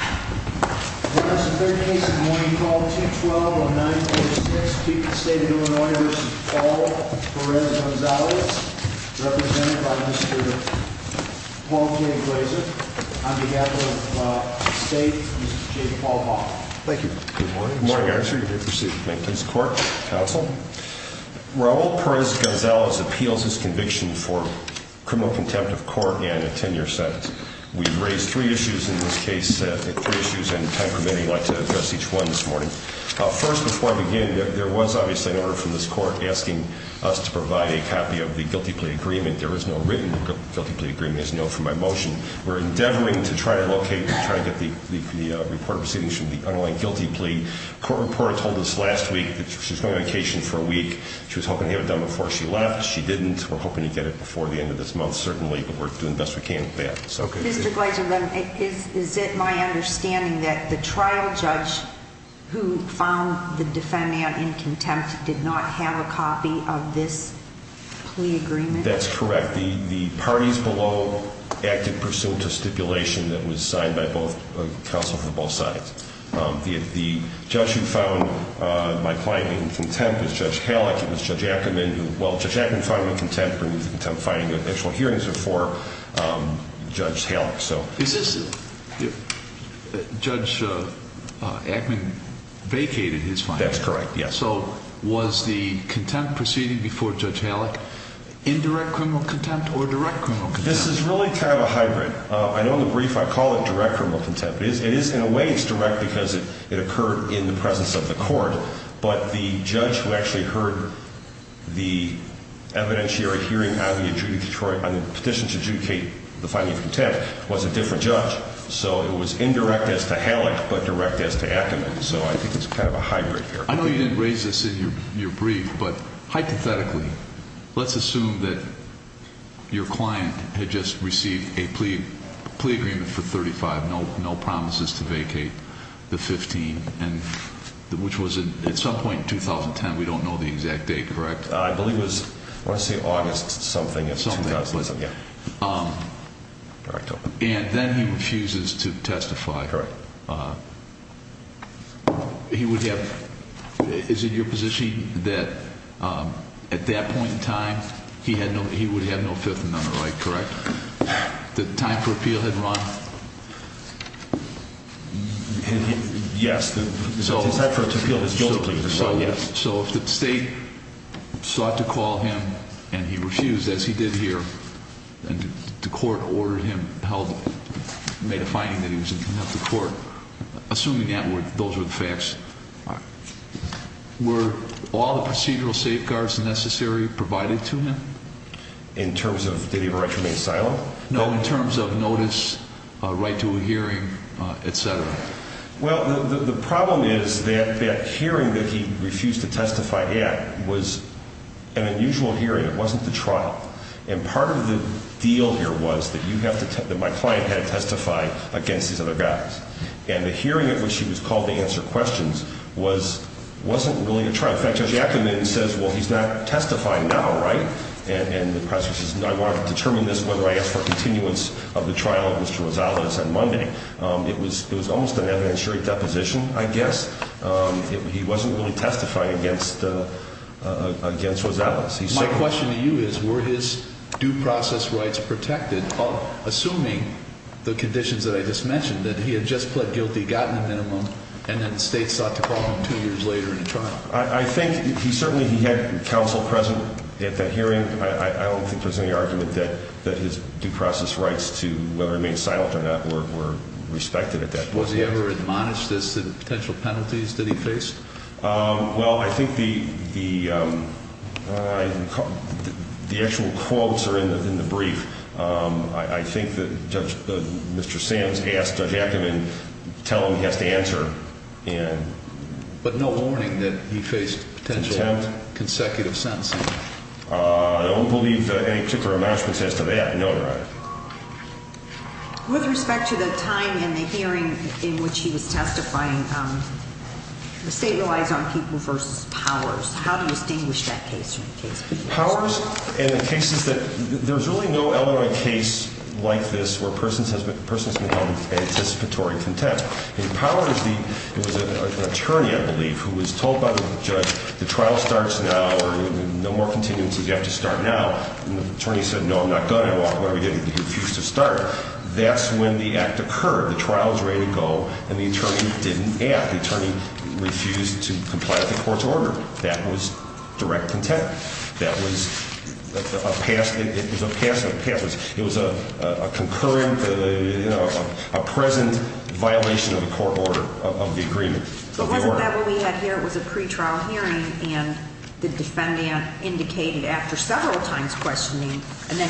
on behalf of the state, Mr. J. Paul Bach. Thank you. Good morning. Good morning, sir. You may proceed. Thank you. This court, counsel. Raul Perez-Gonzalez appeals his conviction for criminal contempt of court and a 10-year sentence. We've raised three issues in this case, three issues, and time permitting, I'd like to address each one this morning. First, before I begin, there was obviously an order from this court asking us to provide a copy of the guilty plea agreement. There is no written guilty plea agreement. There's no from my motion. We're endeavoring to try to locate and try to get the report of proceedings from the underlying guilty plea. Court reporter told us last week that she was going on vacation for a week. She was hoping to have it done before she left. She didn't. We're hoping to get it before the end of this month, certainly, but we're doing the best we can with that. Mr. Gleiser, is it my understanding that the trial judge who found the defendant in contempt did not have a copy of this plea agreement? That's correct. The parties below acted pursuant to stipulation that was signed by counsel for both sides. The judge who found my client in contempt was Judge Halleck. It was Judge Ackerman who, well, Judge Ackerman found me in contempt. The actual hearings were for Judge Halleck. Judge Ackerman vacated his findings. That's correct, yes. Was the contempt proceeding before Judge Halleck indirect criminal contempt or direct criminal contempt? This is really kind of a hybrid. I know in the brief I call it direct criminal contempt. In a way, it's direct because it occurred in the presence of the court, but the judge who actually heard the evidentiary hearing on the petition to adjudicate the finding of contempt was a different judge, so it was indirect as to Halleck but direct as to Ackerman, so I think it's kind of a hybrid there. I know you didn't raise this in your brief, but hypothetically, let's assume that your client had just received a plea agreement for 35, no promises to vacate the 15, which was at some point in 2010. We don't know the exact date, correct? I believe it was, I want to say August something of 2000. Correct. And then he refuses to testify. Correct. Is it your position that at that point in time, he would have no Fifth Amendment right, correct? That time for appeal had run? Yes. So if the state sought to call him and he refused, as he did here, and the court ordered him held, made a finding that he was in contempt of court, assuming that those were the facts, were all the procedural safeguards necessary provided to him? In terms of did he have a right to remain silent? No, in terms of notice, right to a hearing, et cetera. Well, the problem is that that hearing that he refused to testify at was an unusual hearing. It wasn't the trial. And part of the deal here was that my client had to testify against these other guys. And the hearing at which he was called to answer questions wasn't really a trial. In fact, Judge Ackerman says, well, he's not testifying now, right? And the press says, no, I want to determine this, whether I ask for a continuance of the trial of Mr. Rosales on Monday. It was almost an evidentiary deposition, I guess. He wasn't really testifying against Rosales. My question to you is, were his due process rights protected, assuming the conditions that I just mentioned, that he had just pled guilty, gotten a minimum, and had the state sought to call him two years later in a trial? I think he certainly had counsel present at that hearing. I don't think there's any argument that his due process rights to whether he remained silent or not were respected at that point. Was he ever admonished as to the potential penalties that he faced? Well, I think the actual quotes are in the brief. I think that Mr. Sands asked Judge Ackerman to tell him he has to answer. But no warning that he faced potential consecutive sentencing? I don't believe any particular admonishments as to that, no, Your Honor. With respect to the time in the hearing in which he was testifying, the state relies on people versus powers. How do you distinguish that case from the case before you? Powers in the case is that there's really no other case like this where a person has become an anticipatory contempt. In Powers, it was an attorney, I believe, who was told by the judge the trial starts now or no more contingencies, you have to start now. And the attorney said, no, I'm not going to. Whatever he did, he refused to start. That's when the act occurred. The trial was ready to go, and the attorney didn't act. The attorney refused to comply with the court's order. That was direct contempt. That was a pass. It was a pass. It was a violation of the court order, of the agreement. But wasn't that what we had here? It was a pretrial hearing, and the defendant indicated after several times questioning, and then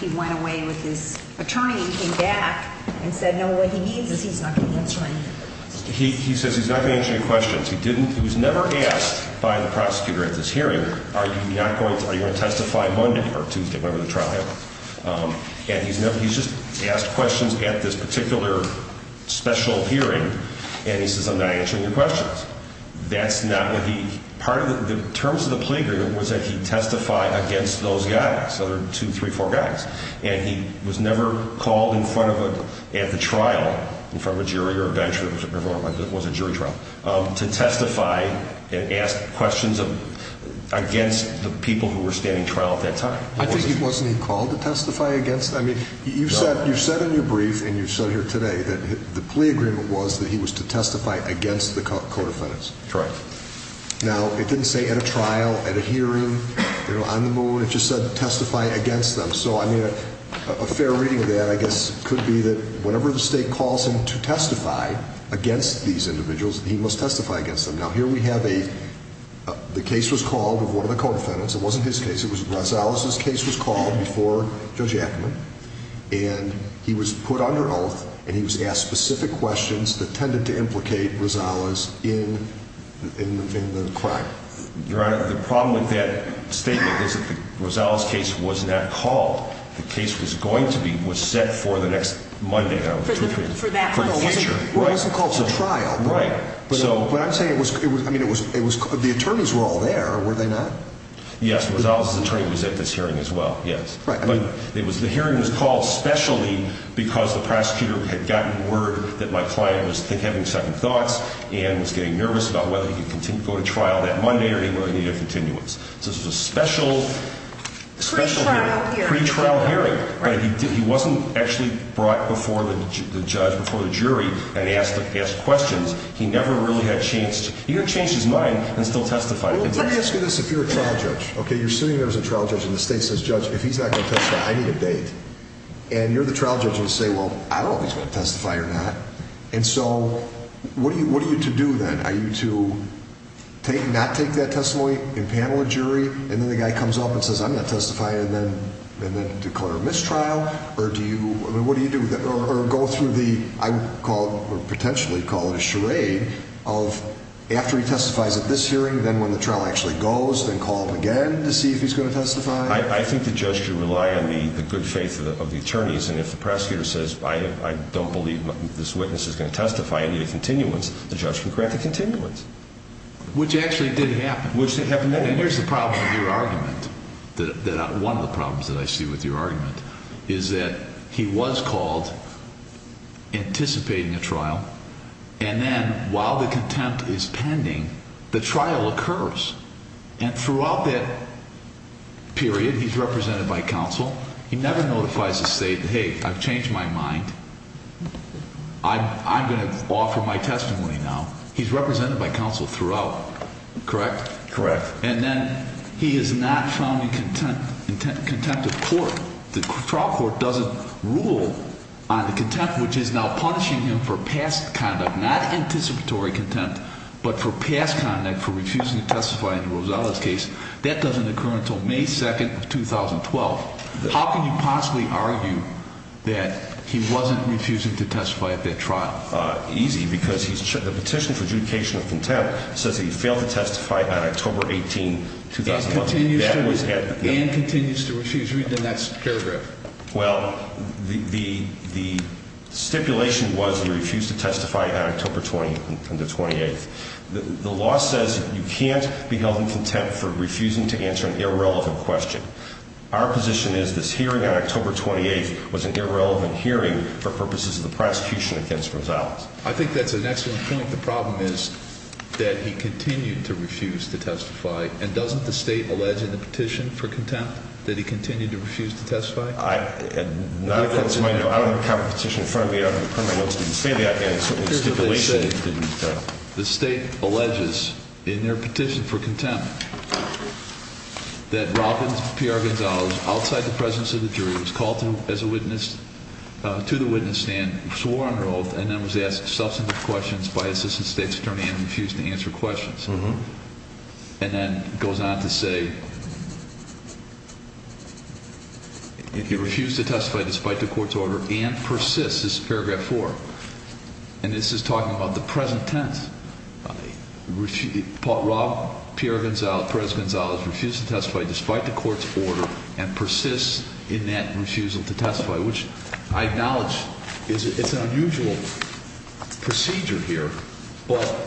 he went away with his attorney and came back and said, no, what he means is he's not going to answer any questions. He says he's not going to answer any questions. He was never asked by the prosecutor at this hearing, are you going to testify Monday or Tuesday, whatever the trial held. And he's just asked questions at this particular special hearing, and he says, I'm not answering your questions. That's not what he, part of the terms of the plea agreement was that he testify against those guys. So there were two, three, four guys. And he was never called in front of a, at the trial, in front of a jury or a bench or whatever it was, a jury trial, to testify and ask questions against the people who were standing trial at that time. I think he, wasn't he called to testify against? I mean, you've said, you've said in your brief and you've said here today that the plea agreement was that he was to testify against the co-defendants. That's right. Now, it didn't say at a trial, at a hearing, you know, on the moon. It just said testify against them. So I mean, a fair reading of that, I guess, could be that whenever the state calls him to testify against these individuals, he must testify against them. Now, here we have a, the case was called of one of the co-defendants. It wasn't his case. It was Rosales' case was called before Judge Ackerman. And he was put under oath and he was asked specific questions that tended to implicate Rosales in, in the crime. Your Honor, the problem with that statement is that the Rosales case was not called. The case was going to be, was set for the next Monday. For that one. For the future. Well, it wasn't called to trial. Right. So. But I'm saying it was, I mean, it was, it was, the attorneys were all there, were they not? Yes. Rosales' attorney was at this hearing as well. Yes. Right. But it was, the hearing was called specially because the prosecutor had gotten word that my client was having second thoughts and was getting nervous about whether he could continue, go to trial that Monday or whether he needed a continuance. So this was a special, special hearing. Pre-trial hearing. Pre-trial hearing. Right. But he didn't, he wasn't actually brought before the judge, before the jury and asked, asked questions. He never really had a chance, he had changed his mind and still testified. Well, let me ask you this, if you're a trial judge, okay, you're sitting there as a trial judge and the state says, judge, if he's not going to testify, I need a date. And you're the trial judge and say, well, I don't know if he's going to testify or not. And so, what are you, what are you to do then? Are you to take, not take that testimony and panel a jury and then the guy comes up and says, I'm going to testify and then, and then declare a mistrial? Or do you, I mean, what do you do? Or go through the, I would call, or potentially call it a charade of after he testifies at this hearing, then when the trial actually goes, then call him again to see if he's going to testify? I think the judge should rely on the good faith of the attorneys. And if the prosecutor says, I don't believe this witness is going to testify, I need a continuance, the judge can grant a continuance. Which actually did happen. Which did happen then. And here's the problem with your argument. One of the problems that I see with your argument is that he was called anticipating a trial. And then, while the contempt is pending, the trial occurs. And throughout that period, he's represented by counsel. He never notifies the state, hey, I've changed my mind. I'm going to offer my testimony now. He's represented by counsel throughout. Correct? Correct. And then he is not found in contempt of court. The trial court doesn't rule on the contempt, which is now punishing him for past conduct. Not anticipatory contempt, but for past conduct for refusing to testify in Rosales' case. That doesn't occur until May 2nd of 2012. How can you possibly argue that he wasn't refusing to testify at that trial? Easy, because the petition for adjudication of contempt says he failed to testify on October 18, 2012. And continues to refuse. Read the next paragraph. Well, the stipulation was he refused to testify on October 20th. The law says you can't be held in contempt for refusing to answer an irrelevant question. Our position is this hearing on October 28th was an irrelevant hearing for purposes of the prosecution against Rosales. I think that's an excellent point. The problem is that he continued to refuse to testify. And doesn't the state allege in the petition for contempt that he continued to refuse to testify? I don't have a copy of the petition in front of me. I don't have it in front of me. I know it's in the stipulation. Here's what they say. The state alleges in their petition for contempt that Robin P.R. Gonzalez, outside the presence of the jury, was called to the witness stand, swore under oath, and then was asked substantive questions by Assistant State's Attorney and refused to answer questions. And then goes on to say he refused to testify despite the court's order and persists. This is paragraph four. And this is talking about the present tense. Robin P.R. Gonzalez refused to testify despite the court's order and persists in that refusal to testify, which I acknowledge is an unusual procedure here, but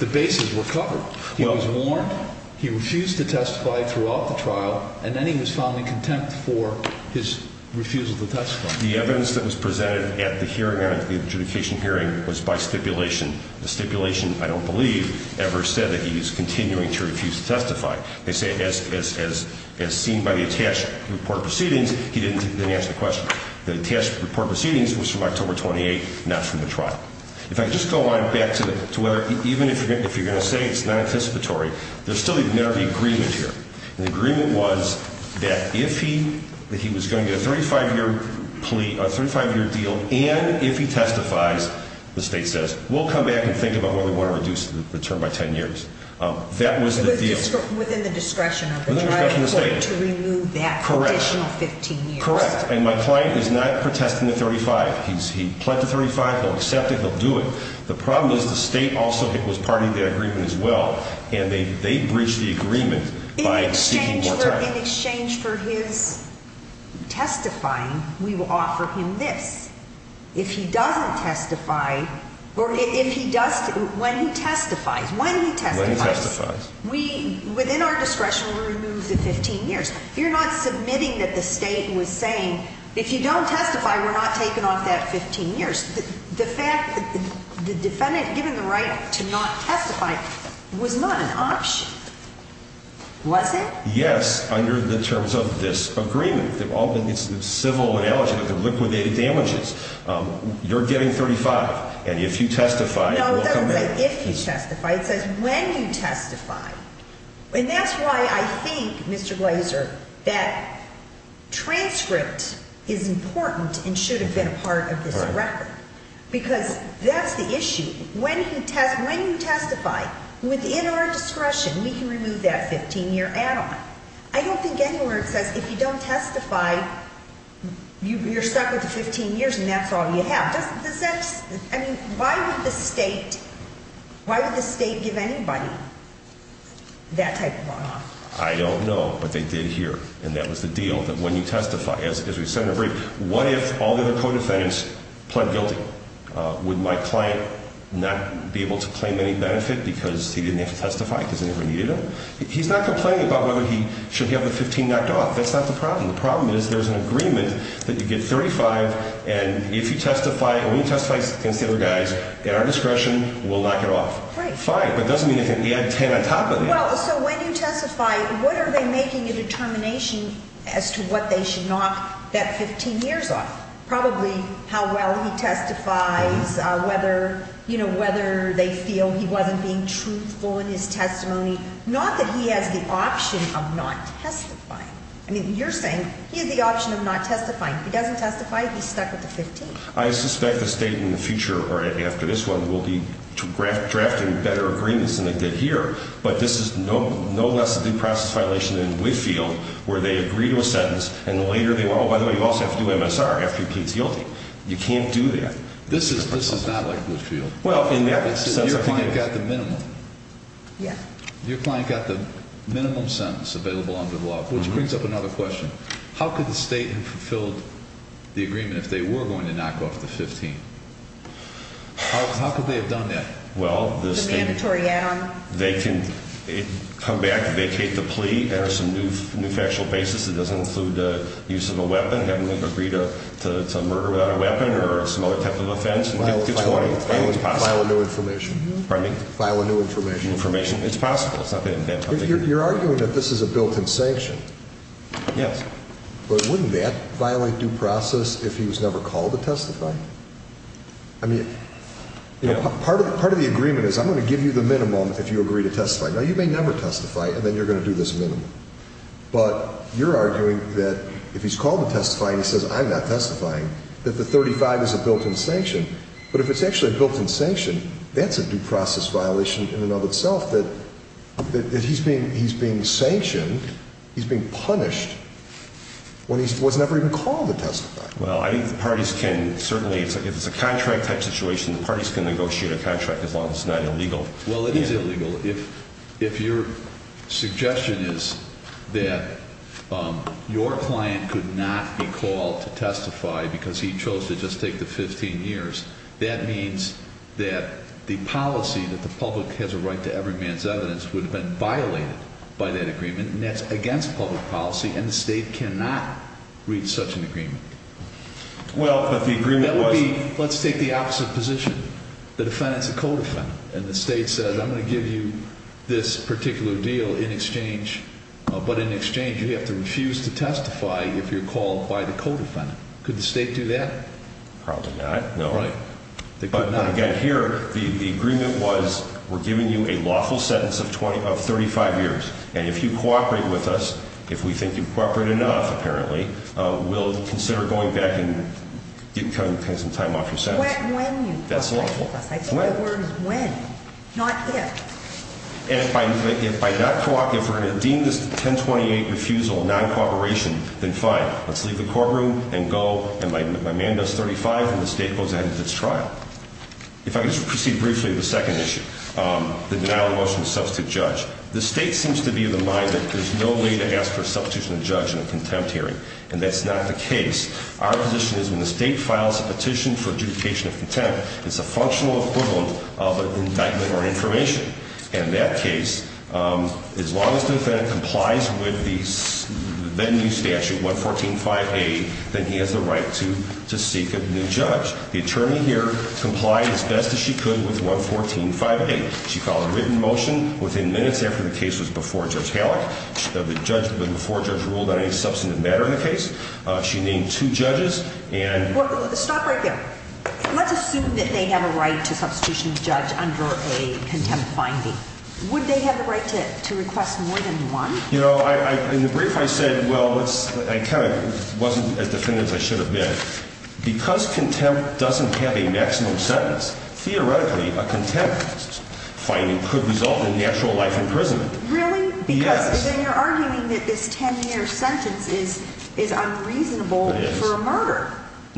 the bases were covered. He was warned. He refused to testify throughout the trial. And then he was found in contempt for his refusal to testify. The evidence that was presented at the hearing, the adjudication hearing, was by stipulation. The stipulation, I don't believe, ever said that he is continuing to refuse to testify. They say as seen by the attached report of proceedings, he didn't answer the question. The attached report of proceedings was from October 28th, not from the trial. If I could just go on back to whether, even if you're going to say it's not anticipatory, there's still a minority agreement here. The agreement was that if he was going to get a 35-year plea, a 35-year deal, and if he testifies, the state says, we'll come back and think about whether we want to reduce the term by 10 years. That was the deal. Within the discretion of the trial court to remove that condition of 15 years. Correct. And my client is not protesting the 35. He pled to 35. He'll accept it. He'll do it. The problem is the state also was part of the agreement as well, and they breached the agreement by seeking more time. In exchange for his testifying, we will offer him this. If he doesn't testify, or if he does, when he testifies, when he testifies. When he testifies. Within our discretion, we'll remove the 15 years. If you're not submitting that the state was saying, if you don't testify, we're not taking off that 15 years. The defendant given the right to not testify was not an option, was it? Yes, under the terms of this agreement. It's civil and eligible. They're liquidated damages. You're getting 35, and if you testify, we'll come back. No, it doesn't say if you testify. It says when you testify. And that's why I think, Mr. Glaser, that transcript is important and should have been a part of this record. Because that's the issue. When you testify, within our discretion, we can remove that 15-year add-on. I don't think anywhere it says, if you don't testify, you're stuck with the 15 years and that's all you have. Why would the state give anybody that type of bond? I don't know, but they did here. And that was the deal, that when you testify, as we said in the brief, what if all the other co-defendants pled guilty? Would my client not be able to claim any benefit because he didn't have to testify because they never needed him? He's not complaining about whether he should have the 15 knocked off. That's not the problem. The problem is there's an agreement that you get 35, and if you testify, and when you testify, consider, guys, in our discretion, we'll knock it off. Fine, but it doesn't mean you can add 10 on top of it. Well, so when you testify, what are they making a determination as to what they should knock that 15 years off? Probably how well he testifies, whether they feel he wasn't being truthful in his testimony. Not that he has the option of not testifying. I mean, you're saying he has the option of not testifying. If he doesn't testify, he's stuck with the 15. I suspect the state in the future, or after this one, will be drafting better agreements than they did here. But this is no less a due process violation than in Woodfield, where they agree to a sentence, and later they want, oh, by the way, you also have to do MSR after he pleads guilty. You can't do that. This is not like Woodfield. Well, in that sense, I think it is. Your client got the minimum. Yeah. Which brings up another question. How could the state have fulfilled the agreement if they were going to knock off the 15? How could they have done that? Well, the state can come back, vacate the plea, enter some new factual basis that doesn't include the use of a weapon, having them agree to murder without a weapon or some other type of offense. File a new information. Pardon me? File a new information. It's possible. You're arguing that this is a built-in sanction. Yes. But wouldn't that violate due process if he was never called to testify? I mean, part of the agreement is I'm going to give you the minimum if you agree to testify. Now, you may never testify, and then you're going to do this minimum. But you're arguing that if he's called to testify and he says, I'm not testifying, that the 35 is a built-in sanction. But if it's actually a built-in sanction, that's a due process violation in and of itself, that he's being sanctioned, he's being punished, when he was never even called to testify. Well, I think the parties can certainly, if it's a contract type situation, the parties can negotiate a contract as long as it's not illegal. Well, it is illegal. If your suggestion is that your client could not be called to testify because he chose to just take the 15 years, that means that the policy that the public has a right to every man's evidence would have been violated by that agreement, and that's against public policy, and the state cannot reach such an agreement. Well, but the agreement was— But in exchange, you have to refuse to testify if you're called by the co-defendant. Could the state do that? Probably not. No. Right. They could not. But, again, here, the agreement was we're giving you a lawful sentence of 35 years, and if you cooperate with us, if we think you cooperate enough, apparently, we'll consider going back and cutting some time off your sentence. When you cooperate with us. That's lawful. I think the word is when, not if. If we're going to deem this a 1028 refusal of non-cooperation, then fine. Let's leave the courtroom and go, and my man does 35, and the state goes ahead with its trial. If I could just proceed briefly to the second issue, the denial of the motion to substitute judge. The state seems to be of the mind that there's no way to ask for a substitution of judge in a contempt hearing, and that's not the case. Our position is when the state files a petition for adjudication of contempt, it's a functional equivalent of an indictment or information. And in that case, as long as the defendant complies with the then-new statute, 114.5a, then he has the right to seek a new judge. The attorney here complied as best as she could with 114.5a. She filed a written motion within minutes after the case was before Judge Hallock. The judge before the judge ruled on any substantive matter in the case. She named two judges, and- Stop right there. Let's assume that they have a right to substitution of judge under a contempt finding. Would they have the right to request more than one? In the brief, I said, well, I kind of wasn't as definitive as I should have been. Because contempt doesn't have a maximum sentence, theoretically, a contempt finding could result in natural life imprisonment. Really? Yes. Then you're arguing that this 10-year sentence is unreasonable for a murder. It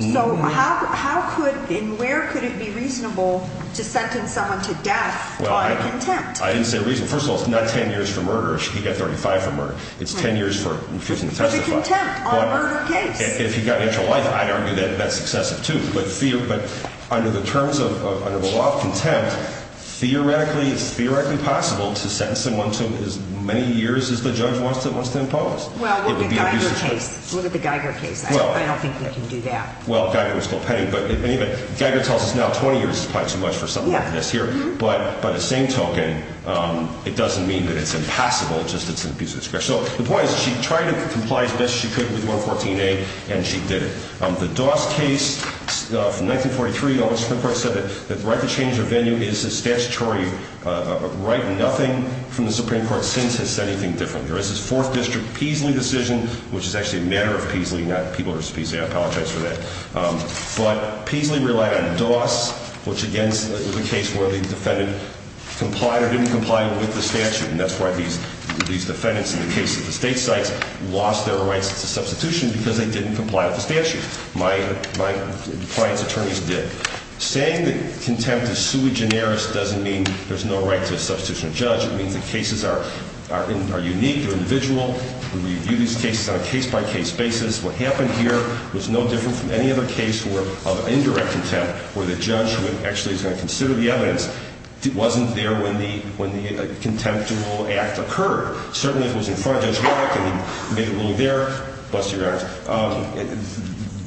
is. So how could and where could it be reasonable to sentence someone to death on contempt? Well, I didn't say reason. First of all, it's not 10 years for murder. He got 35 for murder. It's 10 years for refusing to testify. But the contempt on a murder case. If he got natural life, I'd argue that's excessive, too. But under the terms of a law of contempt, theoretically, it's theoretically possible to sentence someone to as many years as the judge wants to impose. Well, look at the Geiger case. Look at the Geiger case. I don't think they can do that. Well, Geiger was still pending. But anyway, Geiger tells us now 20 years is probably too much for something like this here. But by the same token, it doesn't mean that it's impassable. It's just it's an abuse of discretion. So the point is she tried to comply as best she could with 114A, and she did it. The Doss case from 1943, the Supreme Court said that the right to change their venue is a statutory right. Nothing from the Supreme Court since has said anything different. There is this Fourth District Peasley decision, which is actually a matter of Peasley, not people who are supposed to be there. I apologize for that. But Peasley relied on Doss, which, again, is a case where the defendant complied or didn't comply with the statute. And that's why these defendants in the case of the state sites lost their rights to substitution because they didn't comply with the statute. My client's attorneys did. Saying that contempt is sui generis doesn't mean there's no right to a substitution of judge. It means the cases are unique, they're individual. We review these cases on a case-by-case basis. What happened here was no different from any other case of indirect contempt where the judge actually is going to consider the evidence. It wasn't there when the contemptible act occurred. Certainly, if it was in front of Judge Warwick and he made a ruling there, bless your hearts,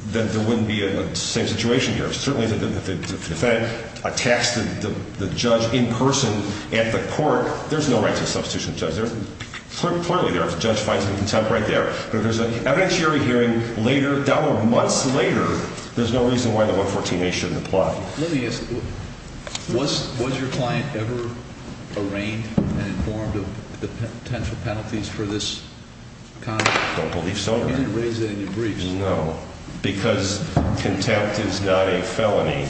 then there wouldn't be the same situation here. Certainly, if the defendant attacks the judge in person at the court, there's no right to a substitution of judge. They're clearly there if the judge finds them in contempt right there. But if there's an evidentiary hearing later, months later, there's no reason why the 114A shouldn't apply. Let me ask you, was your client ever arraigned and informed of the potential penalties for this conduct? I don't believe so, Your Honor. You didn't raise that in your briefs. No. Because contempt is not a felony.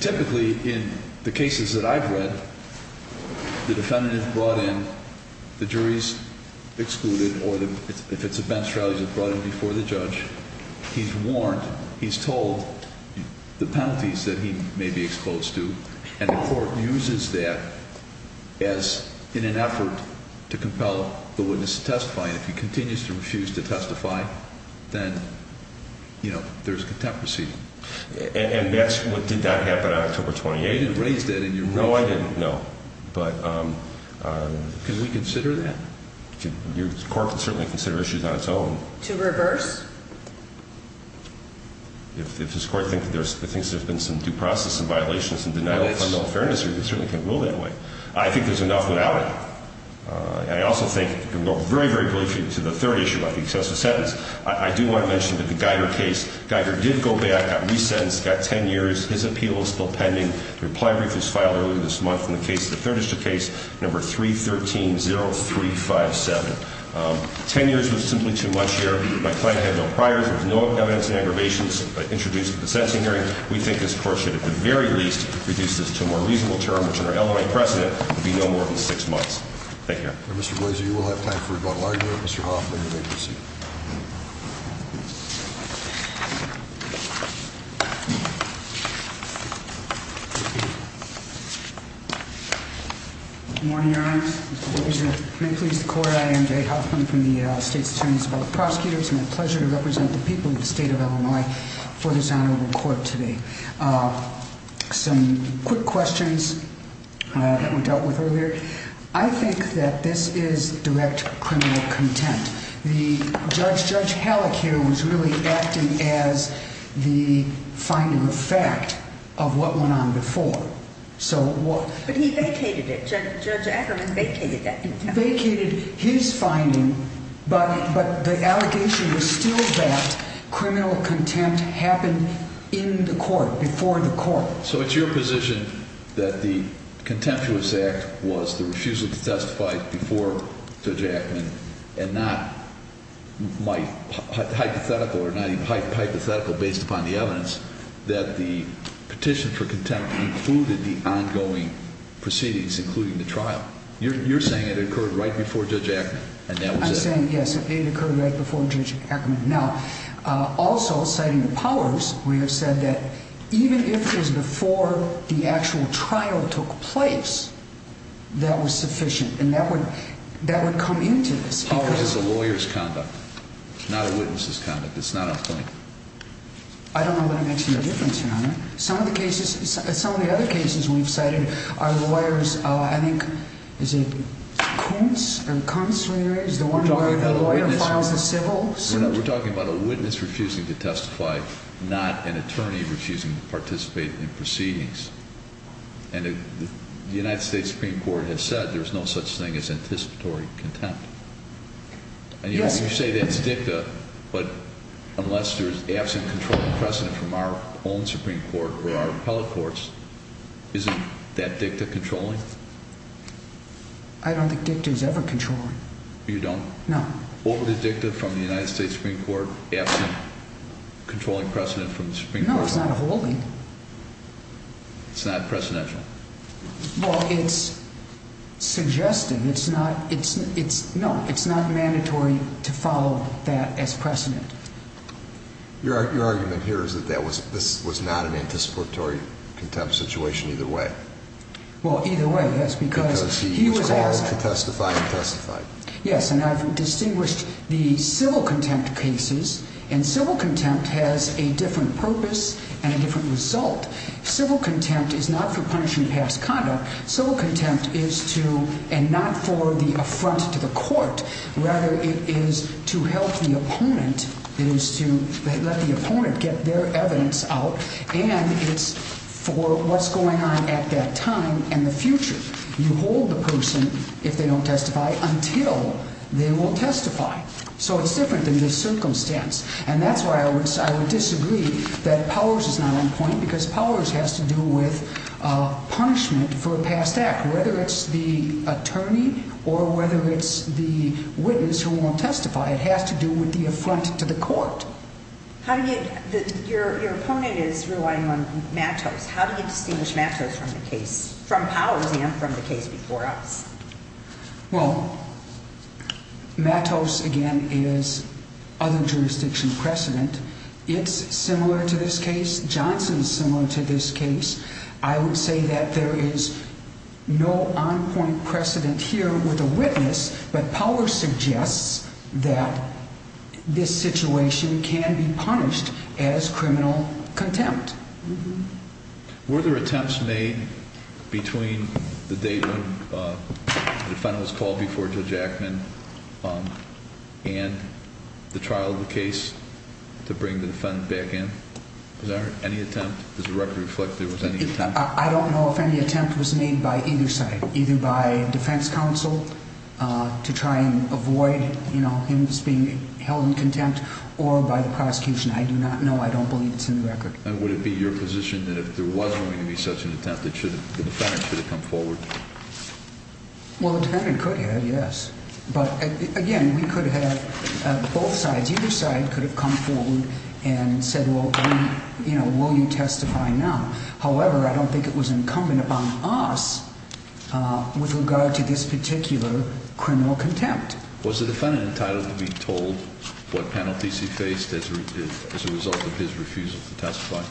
Typically, in the cases that I've read, the defendant is brought in, the jury is excluded, or if it's a bench trial, he's brought in before the judge. He's warned, he's told the penalties that he may be exposed to, and the court uses that as in an effort to compel the witness to testify. If he continues to refuse to testify, then, you know, there's contempt proceeding. And that's what did not happen on October 28th. You didn't raise that in your briefs. No, I didn't, no. But can we consider that? Your court can certainly consider issues on its own. To reverse? If this court thinks there's been some due process and violations and denial of criminal fairness, it certainly can rule that way. I think there's enough without it. And I also think we can go very, very briefly to the third issue about the excessive sentence. I do want to mention that the Geiger case, Geiger did go back, got resentenced, got 10 years. His appeal is still pending. The reply brief was filed earlier this month in the case, the Third District case, number 313-0357. Ten years was simply too much here. My client had no priors. There was no evidence of aggravations introduced at the sentencing hearing. We think this court should, at the very least, reduce this to a more reasonable term, which in our LMI precedent, would be no more than six months. Thank you. Mr. Glazer, you will have time for rebuttal. I agree with Mr. Hoffman. You may proceed. Good morning, Your Honor. Mr. Glazer. May it please the Court, I am Jay Hoffman from the State's Attorney's Board of Prosecutors. It's my pleasure to represent the people of the State of Illinois for this honorable court today. Some quick questions that were dealt with earlier. I think that this is direct criminal content. Judge Halleck here was really acting as the finding of fact of what went on before. But he vacated it. Judge Ackerman vacated that. He vacated his finding, but the allegation was still that criminal contempt happened in the court, before the court. So it's your position that the contemptuous act was the refusal to testify before Judge Ackerman, and not hypothetical based upon the evidence, that the petition for contempt included the ongoing proceedings, including the trial. You're saying it occurred right before Judge Ackerman, and that was it. I'm saying, yes, it occurred right before Judge Ackerman. Now, also, citing the Powers, we have said that even if it was before the actual trial took place, that was sufficient. And that would come into this. Powers is a lawyer's conduct, not a witness's conduct. It's not a plaintiff. I don't know what makes the difference, Your Honor. Some of the cases, some of the other cases we've cited are lawyers, I think, is it Kuntz and Kuntz, is the one where a lawyer files a civil suit? We're talking about a witness refusing to testify, not an attorney refusing to participate in proceedings. And the United States Supreme Court has said there's no such thing as anticipatory contempt. And you say that's dicta, but unless there's absent controlling precedent from our own Supreme Court or our appellate courts, isn't that dicta controlling? I don't think dicta is ever controlling. You don't? No. What would a dicta from the United States Supreme Court, absent controlling precedent from the Supreme Court? No, it's not a holding. It's not precedential? Well, it's suggesting. No, it's not mandatory to follow that as precedent. Your argument here is that this was not an anticipatory contempt situation either way. Well, either way, yes, because he was absent. Because he was called to testify and testified. Yes, and I've distinguished the civil contempt cases, and civil contempt has a different purpose and a different result. Civil contempt is not for punishing past conduct. Civil contempt is to, and not for the affront to the court. Rather, it is to help the opponent. It is to let the opponent get their evidence out. And it's for what's going on at that time and the future. You hold the person, if they don't testify, until they will testify. So it's different than just circumstance. And that's why I would disagree that Powers is not on point because Powers has to do with punishment for a past act, whether it's the attorney or whether it's the witness who won't testify. It has to do with the affront to the court. How do you, your opponent is relying on Matos. How do you distinguish Matos from the case, from Powers and from the case before us? Well, Matos, again, is other jurisdiction precedent. It's similar to this case. Johnson is similar to this case. I would say that there is no on-point precedent here with a witness, but Powers suggests that this situation can be punished as criminal contempt. Were there attempts made between the date when the defendant was called before Judge Ackman and the trial of the case to bring the defendant back in? Was there any attempt? Does the record reflect there was any attempt? I don't know if any attempt was made by either side, either by defense counsel to try and avoid him being held in contempt or by the prosecution. I do not know. I don't believe it's in the record. And would it be your position that if there was going to be such an attempt, the defendant should have come forward? Well, the defendant could have, yes. But, again, we could have, both sides, either side could have come forward and said, well, you know, will you testify now? However, I don't think it was incumbent upon us with regard to this particular criminal contempt. Was the defendant entitled to be told what penalties he faced as a result of his refusal to testify?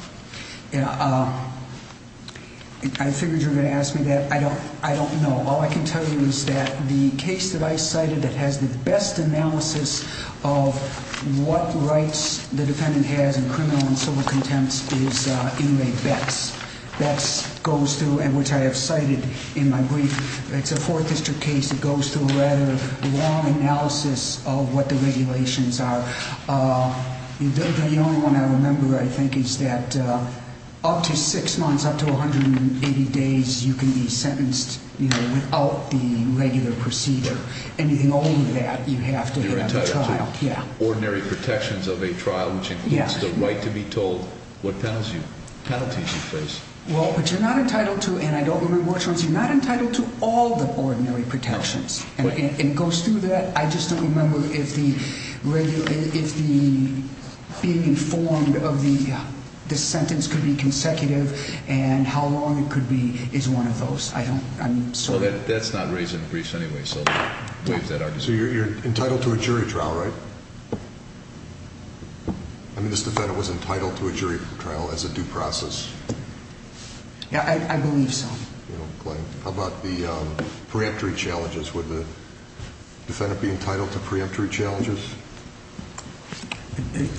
I figured you were going to ask me that. I don't know. All I can tell you is that the case that I cited that has the best analysis of what rights the defendant has in criminal and civil contempt is Inmate Betz. Betz goes through, and which I have cited in my brief, it's a Fourth District case. It goes through a rather long analysis of what the regulations are. The only one I remember, I think, is that up to six months, up to 180 days, you can be sentenced without the regular procedure. Anything over that, you have to have a trial. You're entitled to ordinary protections of a trial, which includes the right to be told what penalties you face. Well, but you're not entitled to, and I don't remember which ones, you're not entitled to all the ordinary protections. And it goes through that. I just don't remember if the being informed of the sentence could be consecutive and how long it could be is one of those. I don't. I'm sorry. That's not raised in the briefs anyway. So you're entitled to a jury trial, right? I mean, this defendant was entitled to a jury trial as a due process. Yeah, I believe so. How about the preemptory challenges? Would the defendant be entitled to preemptory challenges?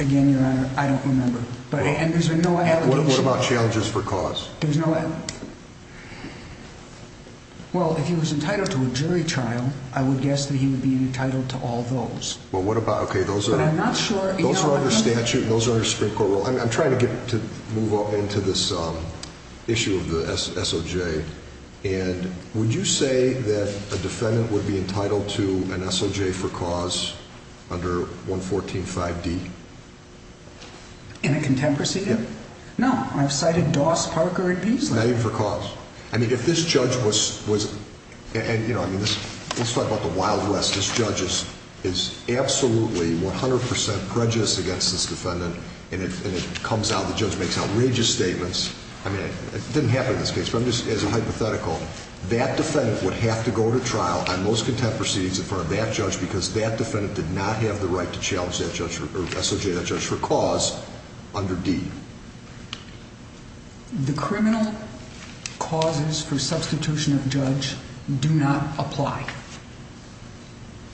Again, Your Honor, I don't remember. And there's no allocation. What about challenges for cause? There's no allocation. Well, if he was entitled to a jury trial, I would guess that he would be entitled to all those. But I'm not sure. Those are under statute and those are under Supreme Court rule. I'm trying to move on into this issue of the SOJ. And would you say that a defendant would be entitled to an SOJ for cause under 114.5d? In a contemporary? Yeah. No, I've cited Doss, Parker, and Beasley. Not even for cause. I mean, if this judge was, and, you know, I mean, let's talk about the wild west. This judge is absolutely 100 percent prejudiced against this defendant. And it comes out, the judge makes outrageous statements. I mean, it didn't happen in this case. But I'm just, as a hypothetical, that defendant would have to go to trial on most contempt proceedings in front of that judge because that defendant did not have the right to challenge that judge or SOJ that judge for cause under D. The criminal causes for substitution of judge do not apply.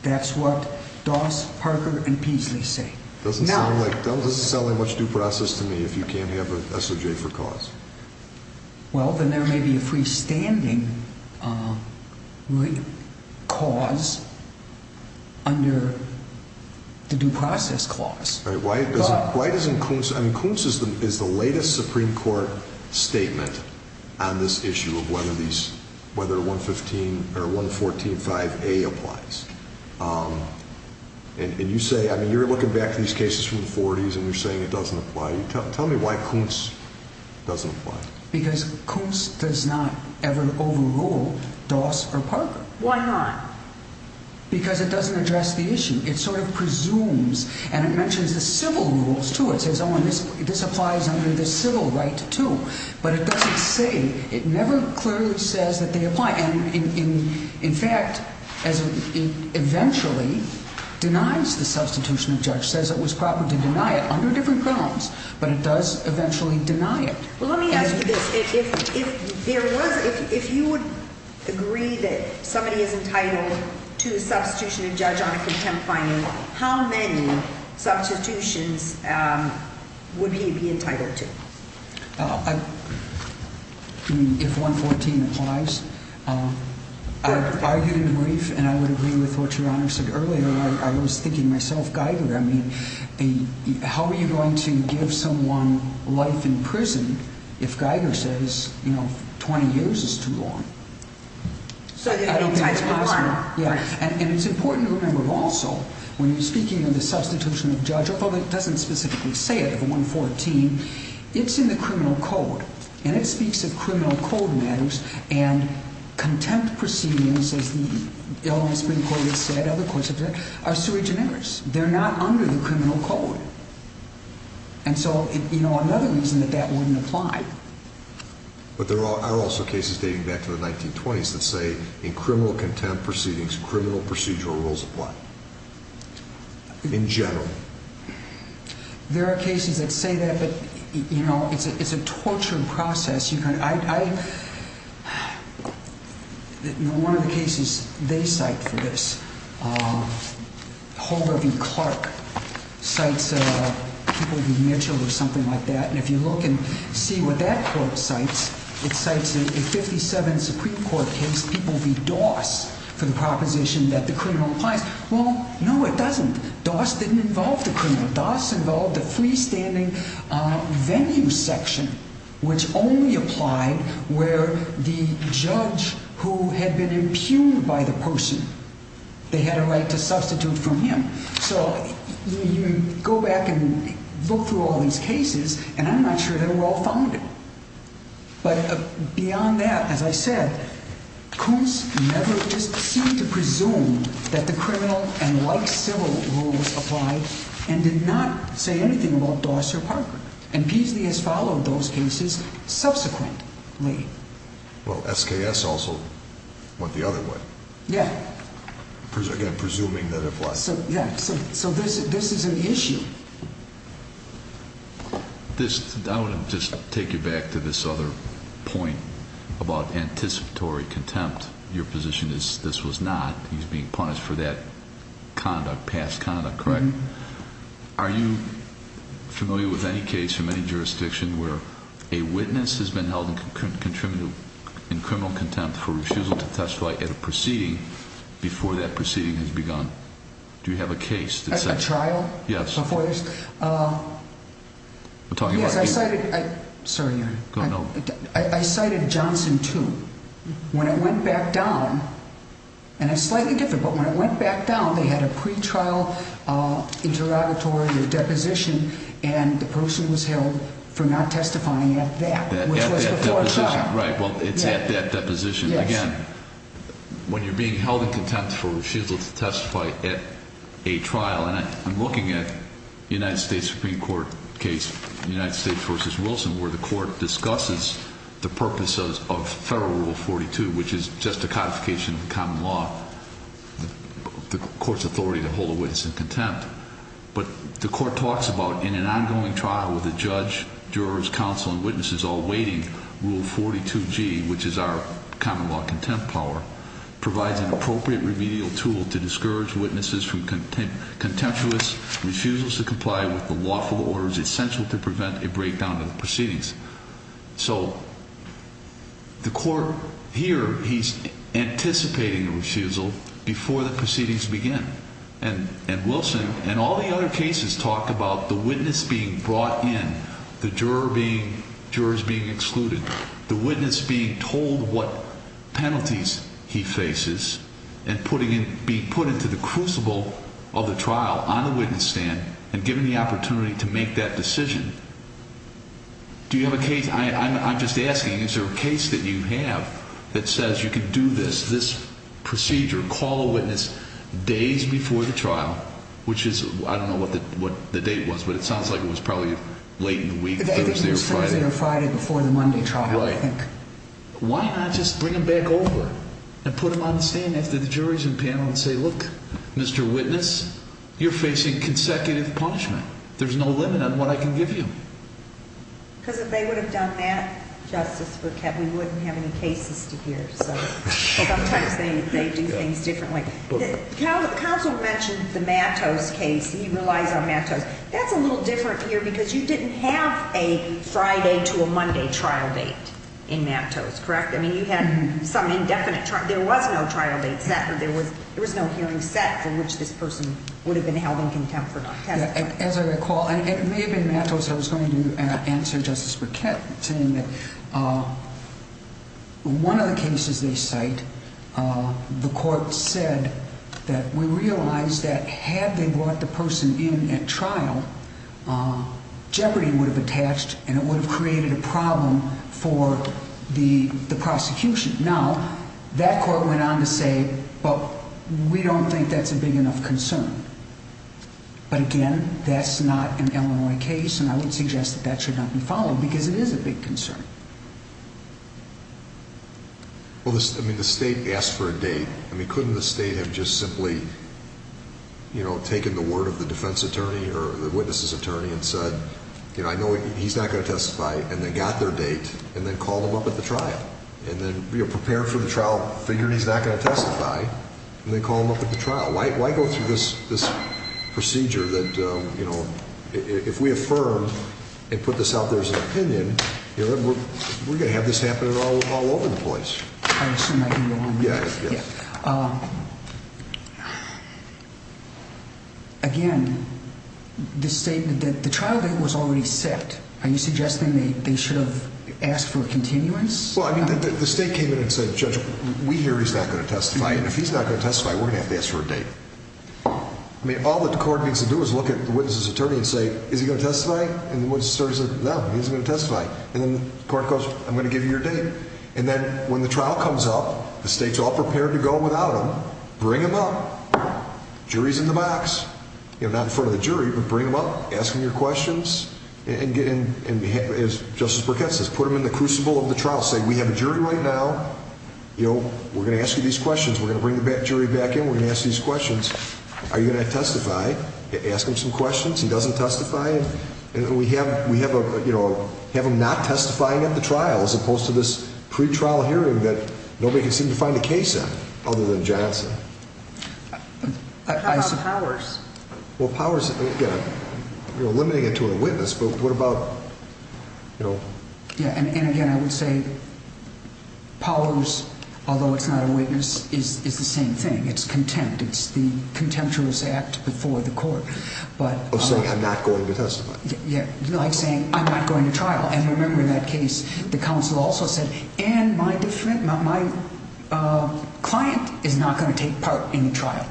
That's what Doss, Parker, and Beasley say. It doesn't sound like much due process to me if you can't have an SOJ for cause. Well, then there may be a freestanding cause under the due process clause. Why doesn't Kuntz, I mean, Kuntz is the latest Supreme Court statement on this issue of whether these, whether 114.5a applies. And you say, I mean, you're looking back at these cases from the 40s and you're saying it doesn't apply. Tell me why Kuntz doesn't apply. Because Kuntz does not ever overrule Doss or Parker. Why not? Because it doesn't address the issue. It sort of presumes, and it mentions the civil rules, too. It says, oh, and this applies under the civil right, too. But it doesn't say, it never clearly says that they apply. And in fact, it eventually denies the substitution of judge, says it was proper to deny it under different grounds. But it does eventually deny it. Well, let me ask you this. If there was, if you would agree that somebody is entitled to a substitution of judge on a contempt finding, how many substitutions would he be entitled to? I mean, if 114 applies. I've argued in brief, and I would agree with what Your Honor said earlier. I was thinking myself, Geiger, I mean, how are you going to give someone life in prison if Geiger says, you know, 20 years is too long? I don't think that's possible. And it's important to remember, also, when you're speaking of the substitution of judge, although it doesn't specifically say it, the 114, it's in the criminal code. And it speaks of criminal code matters. And contempt proceedings, as the Ellen Spring Court has said, other courts have said, are sui generis. They're not under the criminal code. And so, you know, another reason that that wouldn't apply. But there are also cases dating back to the 1920s that say, in criminal contempt proceedings, criminal procedural rules apply. In general. There are cases that say that, but, you know, it's a torturing process. I, you know, one of the cases they cite for this, Holder v. Clark, cites people v. Mitchell or something like that. And if you look and see what that court cites, it cites a 57 Supreme Court case, people v. Doss, for the proposition that the criminal applies. Well, no, it doesn't. Doss didn't involve the criminal. Doss involved the freestanding venue section, which only applied where the judge who had been impugned by the person, they had a right to substitute from him. So you go back and look through all these cases, and I'm not sure they were all founded. But beyond that, as I said, Coombs never just seemed to presume that the criminal and white civil rules applied and did not say anything about Doss or Parker. And Peasley has followed those cases subsequently. Well, SKS also went the other way. Yeah. Again, presuming that it applies. Yeah, so this is an issue. I want to just take you back to this other point about anticipatory contempt. Your position is this was not. He's being punished for that conduct, past conduct, correct? Are you familiar with any case from any jurisdiction where a witness has been held in criminal contempt for refusal to testify at a proceeding before that proceeding has begun? Do you have a case that says that? At a trial? Yes. Before this? Yes, I cited Johnson too. When it went back down, and it's slightly different, but when it went back down, they had a pretrial interrogatory or deposition, and the person was held for not testifying at that, which was before trial. Right, well, it's at that deposition. Yes. Again, when you're being held in contempt for refusal to testify at a trial, and I'm looking at United States Supreme Court case, United States v. Wilson, where the court discusses the purposes of Federal Rule 42, which is just a codification of common law, the court's authority to hold a witness in contempt. But the court talks about in an ongoing trial with a judge, jurors, counsel, and witnesses all waiting, Rule 42G, which is our common law contempt power, provides an appropriate remedial tool to discourage witnesses from contemptuous refusals to comply with the lawful orders essential to prevent a breakdown of the proceedings. So the court here, he's anticipating a refusal before the proceedings begin. And Wilson and all the other cases talk about the witness being brought in, the jurors being excluded, the witness being told what penalties he faces, and being put into the crucible of the trial on the witness stand and given the opportunity to make that decision. Do you have a case, I'm just asking, is there a case that you have that says you can do this, this procedure, call a witness days before the trial, which is, I don't know what the date was, but it sounds like it was probably late in the week, Thursday or Friday. I think it was Thursday or Friday before the Monday trial, I think. Why not just bring him back over and put him on the stand after the jurors and panel and say, look, Mr. Witness, you're facing consecutive punishment. There's no limit on what I can give you. Because if they would have done that, Justice, we wouldn't have any cases to hear. So sometimes they do things differently. Counsel mentioned the Mattos case. He relies on Mattos. That's a little different here because you didn't have a Friday to a Monday trial date in Mattos, correct? I mean, you had some indefinite trial. There was no trial date set. There was no hearing set for which this person would have been held in contempt. As I recall, it may have been Mattos I was going to answer, Justice Burkett, saying that one of the cases they cite, the court said that we realized that had they brought the person in at trial, jeopardy would have attached and it would have created a problem for the prosecution. Now, that court went on to say, but we don't think that's a big enough concern. But again, that's not an Illinois case, and I would suggest that that should not be followed because it is a big concern. Well, I mean, the state asked for a date. I mean, couldn't the state have just simply, you know, taken the word of the defense attorney or the witness's attorney and said, you know, I know he's not going to testify, and then got their date, and then called him up at the trial? And then, you know, prepared for the trial, figured he's not going to testify, and then called him up at the trial. Why go through this procedure that, you know, if we affirm and put this out there as an opinion, you know, we're going to have this happen all over the place. I assume I can go on. Yeah. Again, the state, the trial date was already set. Are you suggesting they should have asked for a continuance? Well, I mean, the state came in and said, Judge, we hear he's not going to testify, and if he's not going to testify, we're going to have to ask for a date. I mean, all that the court needs to do is look at the witness's attorney and say, is he going to testify? And the witness attorney says, no, he isn't going to testify. And then the court goes, I'm going to give you your date. And then when the trial comes up, the state's all prepared to go without him. Bring him up. Jury's in the box. You know, not in front of the jury, but bring him up. Ask him your questions. And as Justice Burkett says, put him in the crucible of the trial. Say, we have a jury right now. You know, we're going to ask you these questions. We're going to bring the jury back in. We're going to ask you these questions. Are you going to testify? Ask him some questions. He doesn't testify. And we have him not testifying at the trial as opposed to this pretrial hearing that nobody can seem to find a case in other than Johnson. How about powers? Well, powers, again, you're limiting it to a witness. But what about, you know? Yeah, and, again, I would say powers, although it's not a witness, is the same thing. It's contempt. It's the contemptuous act before the court. Of saying, I'm not going to testify. Yeah, like saying, I'm not going to trial. And remember in that case, the counsel also said, and my client is not going to take part in the trial.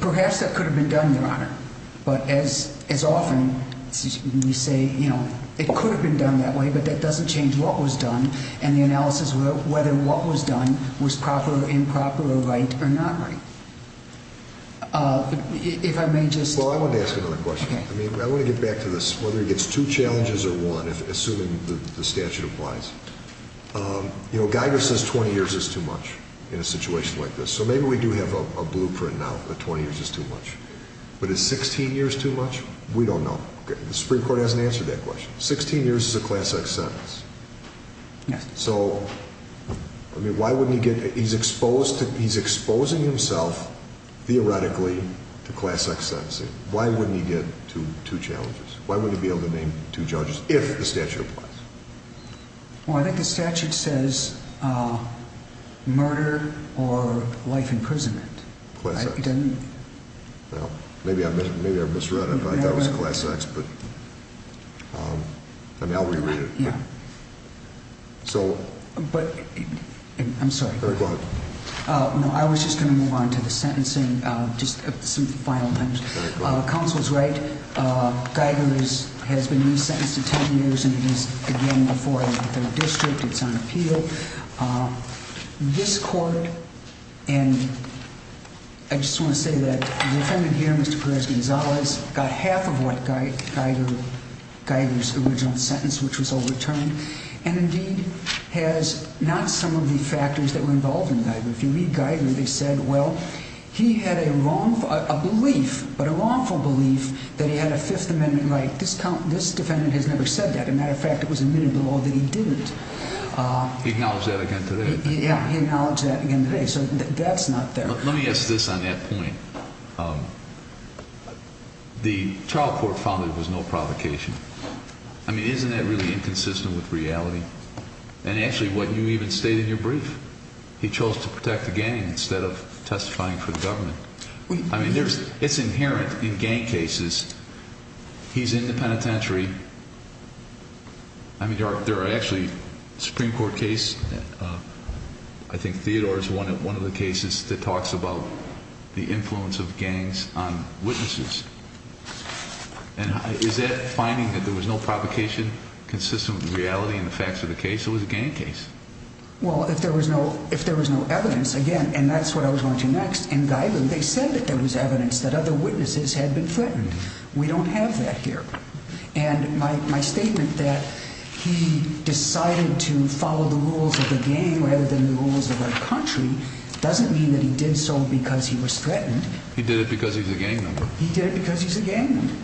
Perhaps that could have been done, Your Honor. But as often we say, you know, it could have been done that way, but that doesn't change what was done and the analysis of whether what was done was proper or improper or right or not right. If I may just. Well, I wanted to ask another question. Okay. I mean, I want to get back to this, whether he gets two challenges or one, assuming the statute applies. You know, Geiger says 20 years is too much in a situation like this. So maybe we do have a blueprint now that 20 years is too much. But is 16 years too much? We don't know. The Supreme Court hasn't answered that question. 16 years is a class X sentence. Yes. So, I mean, why wouldn't he get, he's exposed, he's exposing himself, theoretically, to class X sentencing. Why wouldn't he get two challenges? Why wouldn't he be able to name two judges if the statute applies? Well, I think the statute says murder or life imprisonment. Class X. Well, maybe I misread it. I thought it was class X. And now we read it. Yeah. So. But, I'm sorry. Go ahead. No, I was just going to move on to the sentencing, just some final things. Counsel is right. Geiger has been re-sentenced to 10 years, and he's again before a third district. It's on appeal. This court, and I just want to say that the defendant here, Mr. Perez-Gonzalez, got half of what Geiger's original sentence, which was overturned. And, indeed, has not some of the factors that were involved in Geiger. If you read Geiger, they said, well, he had a belief, but a wrongful belief, that he had a Fifth Amendment right. This defendant has never said that. As a matter of fact, it was admitted below that he didn't. He acknowledged that again today. Yeah. He acknowledged that again today. So, that's not there. Let me ask this on that point. The trial court found that there was no provocation. I mean, isn't that really inconsistent with reality? And, actually, what you even state in your brief. He chose to protect the gang instead of testifying for the government. I mean, it's inherent in gang cases. He's in the penitentiary. I mean, there are actually Supreme Court cases. I think Theodore is one of the cases that talks about the influence of gangs on witnesses. And is that finding that there was no provocation consistent with reality and the facts of the case? It was a gang case. Well, if there was no evidence, again, and that's what I was going to next. In Geigel, they said that there was evidence that other witnesses had been threatened. We don't have that here. And my statement that he decided to follow the rules of the gang rather than the rules of the country doesn't mean that he did so because he was threatened. He did it because he's a gang member. He did it because he's a gang member.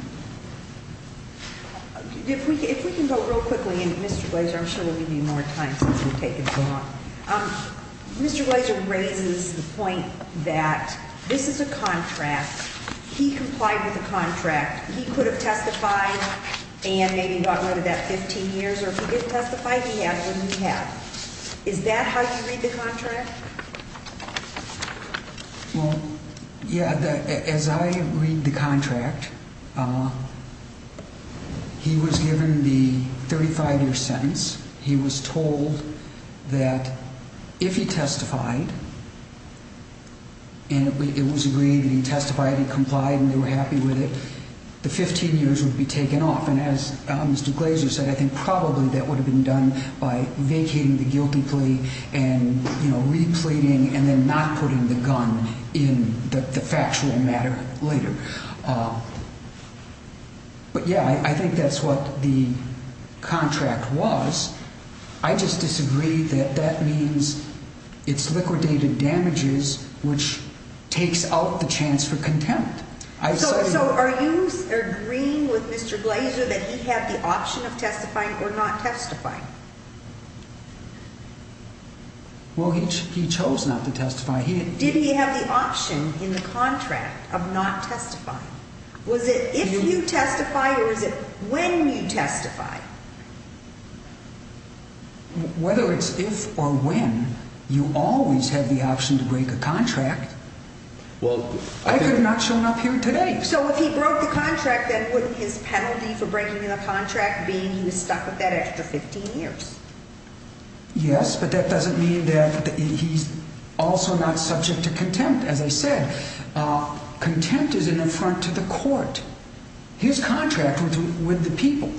If we can go real quickly. And, Mr. Glazer, I'm sure we'll give you more time since we've taken so long. Mr. Glazer raises the point that this is a contract. He complied with the contract. He could have testified and maybe got rid of that 15 years. Or if he didn't testify, he had what he had. Is that how you read the contract? Well, yeah, as I read the contract, he was given the 35-year sentence. He was told that if he testified and it was agreed that he testified and complied and they were happy with it, the 15 years would be taken off. And as Mr. Glazer said, I think probably that would have been done by vacating the guilty plea and repleting and then not putting the gun in the factual matter later. But, yeah, I think that's what the contract was. I just disagree that that means it's liquidated damages, which takes out the chance for contempt. So are you agreeing with Mr. Glazer that he had the option of testifying or not testifying? Well, he chose not to testify. Did he have the option in the contract of not testifying? Was it if you testified or was it when you testified? Whether it's if or when, you always have the option to break a contract. Well, I could have not shown up here today. So if he broke the contract, then wouldn't his penalty for breaking the contract be he was stuck with that extra 15 years? Yes, but that doesn't mean that he's also not subject to contempt. As I said, contempt is an affront to the court, his contract with the people.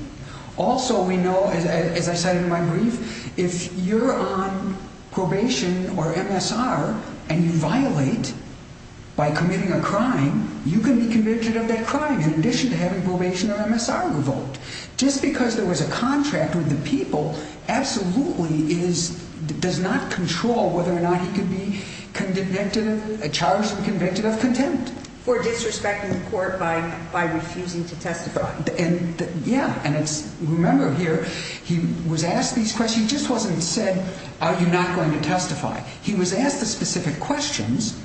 Also, we know, as I said in my brief, if you're on probation or MSR and you violate by committing a crime, you can be convicted of that crime in addition to having probation or MSR revoked. Just because there was a contract with the people absolutely does not control whether or not he could be charged and convicted of contempt. For disrespecting the court by refusing to testify. Yeah, and remember here, he was asked these questions. He just wasn't said, are you not going to testify? He was asked the specific questions,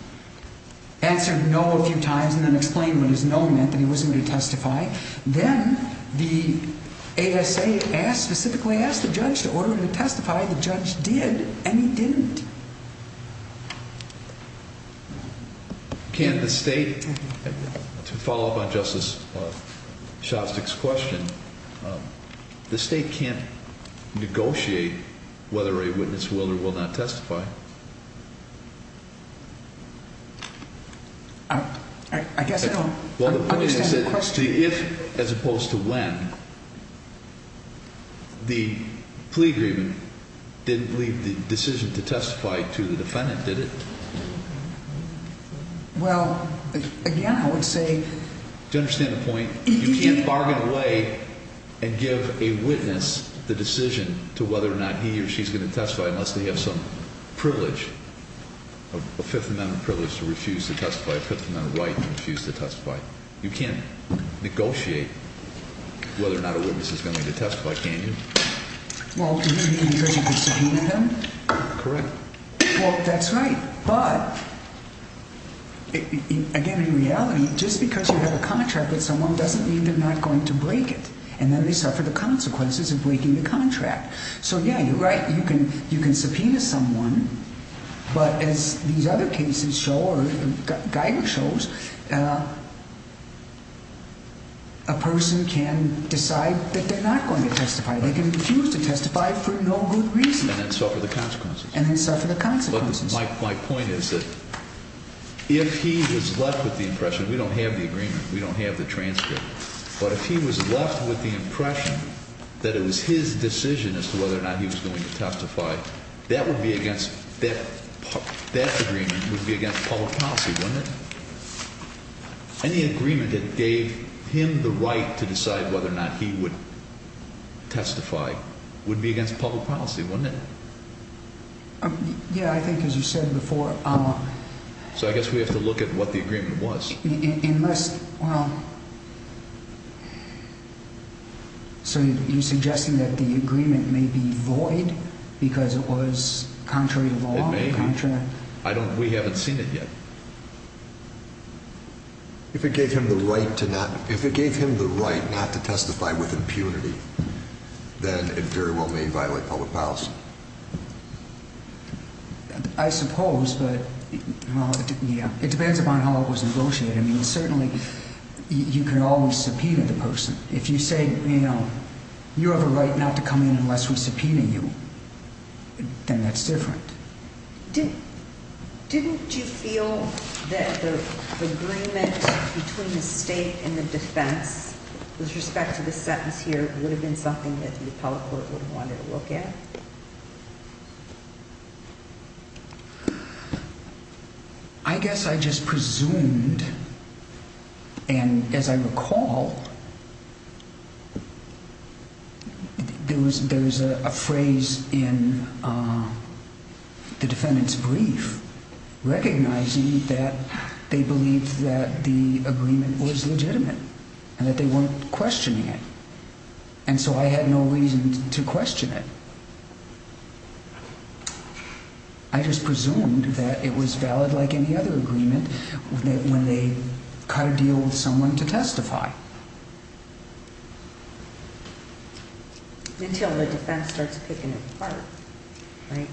answered no a few times, and then explained what his no meant, that he wasn't going to testify. Then the ASA specifically asked the judge to order him to testify. The judge did, and he didn't. Can the state, to follow up on Justice Shostak's question, the state can't negotiate whether a witness will or will not testify? I guess I don't understand the question. If, as opposed to when, the plea agreement didn't leave the decision to testify to the defendant, did it? Well, again, I would say. Do you understand the point? You can't bargain away and give a witness the decision to whether or not he or she's going to testify unless they have some privilege, a Fifth Amendment privilege to refuse to testify, a Fifth Amendment right to refuse to testify. You can't negotiate whether or not a witness is going to testify, can you? Well, because you can subpoena them? Correct. Well, that's right. But, again, in reality, just because you have a contract with someone doesn't mean they're not going to break it. And then they suffer the consequences of breaking the contract. So, yeah, you're right. You can subpoena someone, but as these other cases show or Geiger shows, a person can decide that they're not going to testify. They can refuse to testify for no good reason. And then suffer the consequences. And then suffer the consequences. My point is that if he was left with the impression, we don't have the agreement, we don't have the transcript, but if he was left with the impression that it was his decision as to whether or not he was going to testify, that would be against, that agreement would be against public policy, wouldn't it? Any agreement that gave him the right to decide whether or not he would testify would be against public policy, wouldn't it? Yeah, I think as you said before. So I guess we have to look at what the agreement was. Unless, well, so you're suggesting that the agreement may be void because it was contrary to law? It may be. We haven't seen it yet. If it gave him the right to not, if it gave him the right not to testify with impunity, then it very well may violate public policy. I suppose, but it depends upon how it was negotiated. I mean, certainly you can always subpoena the person. If you say, you know, you have a right not to come in unless we subpoena you, then that's different. Didn't you feel that the agreement between the state and the defense with respect to this sentence here would have been something that the appellate court would have wanted to look at? I guess I just presumed, and as I recall, there was a phrase in the defendant's brief recognizing that they believed that the agreement was legitimate and that they weren't questioning it. And so I had no reason to question it. I just presumed that it was valid like any other agreement when they try to deal with someone to testify. Until the defense starts picking it apart, right?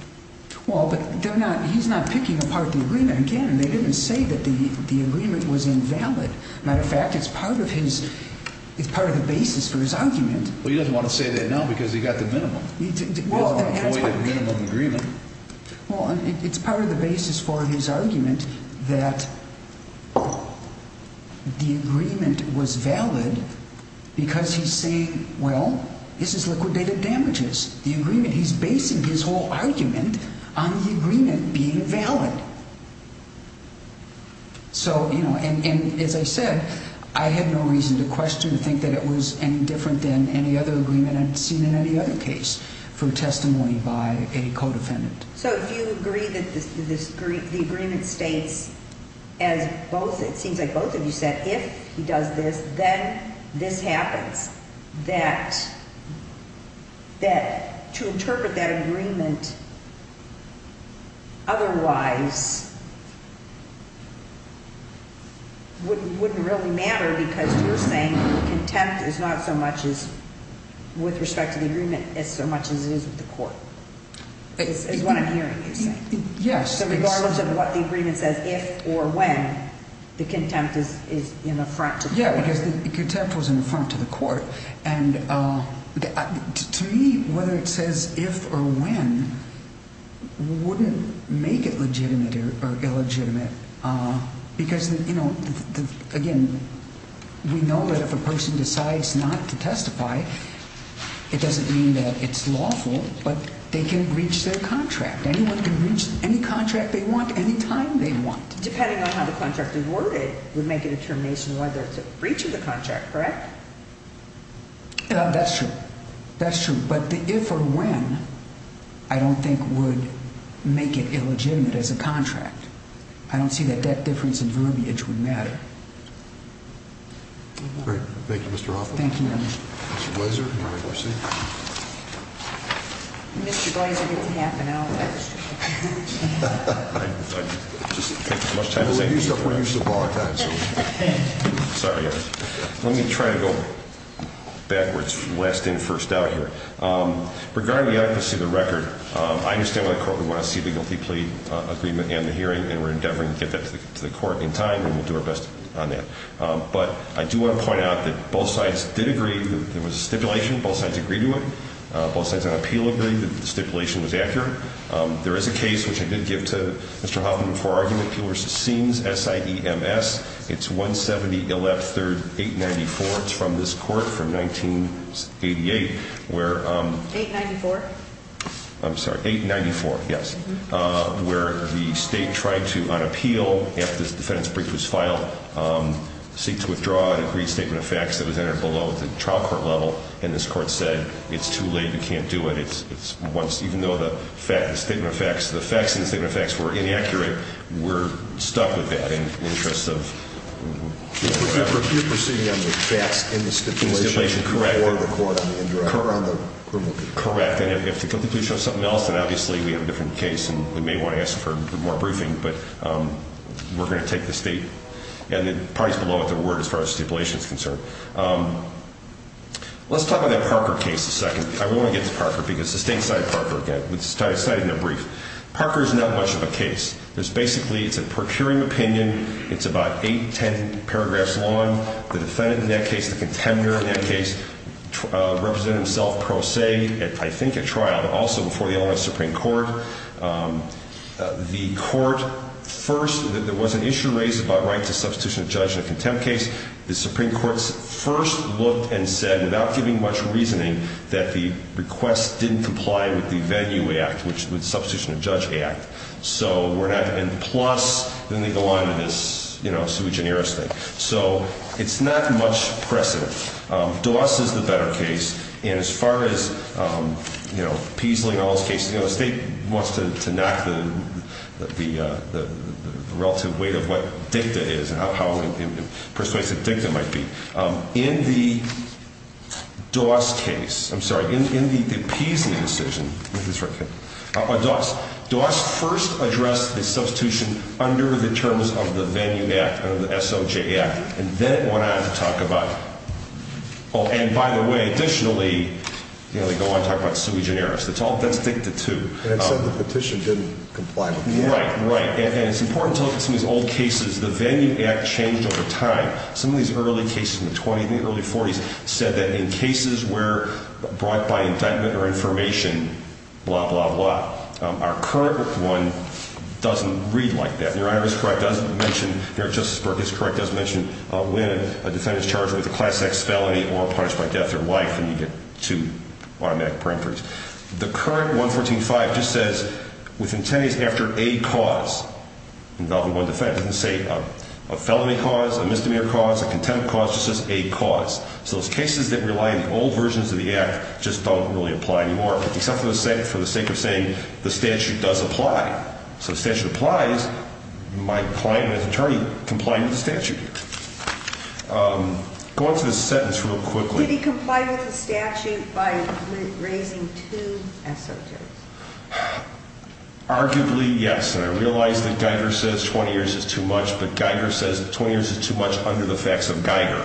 Well, but they're not, he's not picking apart the agreement. Again, they didn't say that the agreement was invalid. Matter of fact, it's part of his, it's part of the basis for his argument. Well, he doesn't want to say that now because he got the minimum. Well, it's part of the basis for his argument that the agreement was valid because he's saying, well, this is liquidated damages. The agreement, he's basing his whole argument on the agreement being valid. So, you know, and as I said, I had no reason to question or think that it was any different than any other agreement I've seen in any other case for testimony by a co-defendant. So you agree that the agreement states, as both, it seems like both of you said, if he does this, then this happens. That to interpret that agreement otherwise wouldn't really matter because you're saying contempt is not so much as, with respect to the agreement, as so much as it is with the court. It's what I'm hearing you say. Yes. So regardless of what the agreement says, if or when, the contempt is in the front to the court. Yeah, because the contempt was in the front to the court. And to me, whether it says if or when wouldn't make it legitimate or illegitimate. Because, you know, again, we know that if a person decides not to testify, it doesn't mean that it's lawful, but they can breach their contract. Anyone can breach any contract they want, any time they want. Depending on how the contract is worded would make a determination whether to breach the contract, correct? That's true. That's true. But the if or when I don't think would make it illegitimate as a contract. I don't see that that difference in verbiage would matter. Great. Thank you, Mr. Hoffman. Thank you. Mr. Blaser, you may proceed. Mr. Blaser gets a half an hour. I just take as much time as I need. We're used to a long time, so. Sorry. Let me try to go backwards, west-in, first-out here. Regarding the accuracy of the record, I understand why the court would want to see the guilty plea agreement and the hearing, and we're endeavoring to get that to the court in time, and we'll do our best on that. But I do want to point out that both sides did agree. There was a stipulation. Both sides agreed to it. Both sides on appeal agreed that the stipulation was accurate. There is a case, which I did give to Mr. Hoffman before our argument, Peeler v. Sins, S-I-E-M-S. It's 170-113-894. It's from this court from 1988. 894? I'm sorry. 894, yes, where the state tried to, on appeal, after the defendant's brief was filed, seek to withdraw an agreed statement of facts that was entered below the trial court level, and this court said it's too late, we can't do it. Even though the statement of facts, the facts in the statement of facts were inaccurate, we're stuck with that in the interest of whatever. You're proceeding on the facts in the stipulation? Correct. Or the court in the indirect? Correct. And if the conclusion is something else, then obviously we have a different case, and we may want to ask for more briefing. But we're going to take the state, and the parties below it, their word as far as stipulation is concerned. Let's talk about that Parker case a second. I want to get to Parker because the state cited Parker again. It's cited in their brief. Parker is not much of a case. There's basically, it's a procuring opinion. It's about eight, ten paragraphs long. The defendant in that case, the contender in that case, represented himself pro se, I think at trial, but also before the Illinois Supreme Court. The court first, there was an issue raised about right to substitution of judge in a contempt case. The Supreme Court first looked and said, without giving much reasoning, that the request didn't comply with the Venue Act, which is the Substitution of Judge Act. So we're not, and plus, then they go on to this, you know, Sui Generis thing. So it's not much precedent. Doss is the better case, and as far as, you know, Peasley and all those cases, you know, the state wants to knock the relative weight of what dicta is and how persuasive dicta might be. In the Doss case, I'm sorry, in the Peasley decision, Doss first addressed the substitution under the terms of the Venue Act, under the SOJ Act, and then it went on to talk about, oh, and by the way, additionally, you know, they go on to talk about Sui Generis. That's dicta too. And it said the petition didn't comply with it. Right, right. And it's important to look at some of these old cases. The Venue Act changed over time. Some of these early cases in the 20s and early 40s said that in cases where brought by indictment or information, blah, blah, blah, our current one doesn't read like that. Your Honor is correct. It doesn't mention, your Justice Burke is correct. It doesn't mention when a defendant is charged with a Class X felony or punished by death or life, and you get two automatic parenteries. The current 114.5 just says with intent is after a cause. Involving one defendant doesn't say a felony cause, a misdemeanor cause, a contempt cause. It just says a cause. So those cases that rely on the old versions of the Act just don't really apply anymore, except for the sake of saying the statute does apply. So the statute applies. My client and his attorney comply with the statute here. Go on to this sentence real quickly. Did he comply with the statute by raising two SOJs? Arguably, yes. And I realize that Geiger says 20 years is too much, but Geiger says 20 years is too much under the facts of Geiger.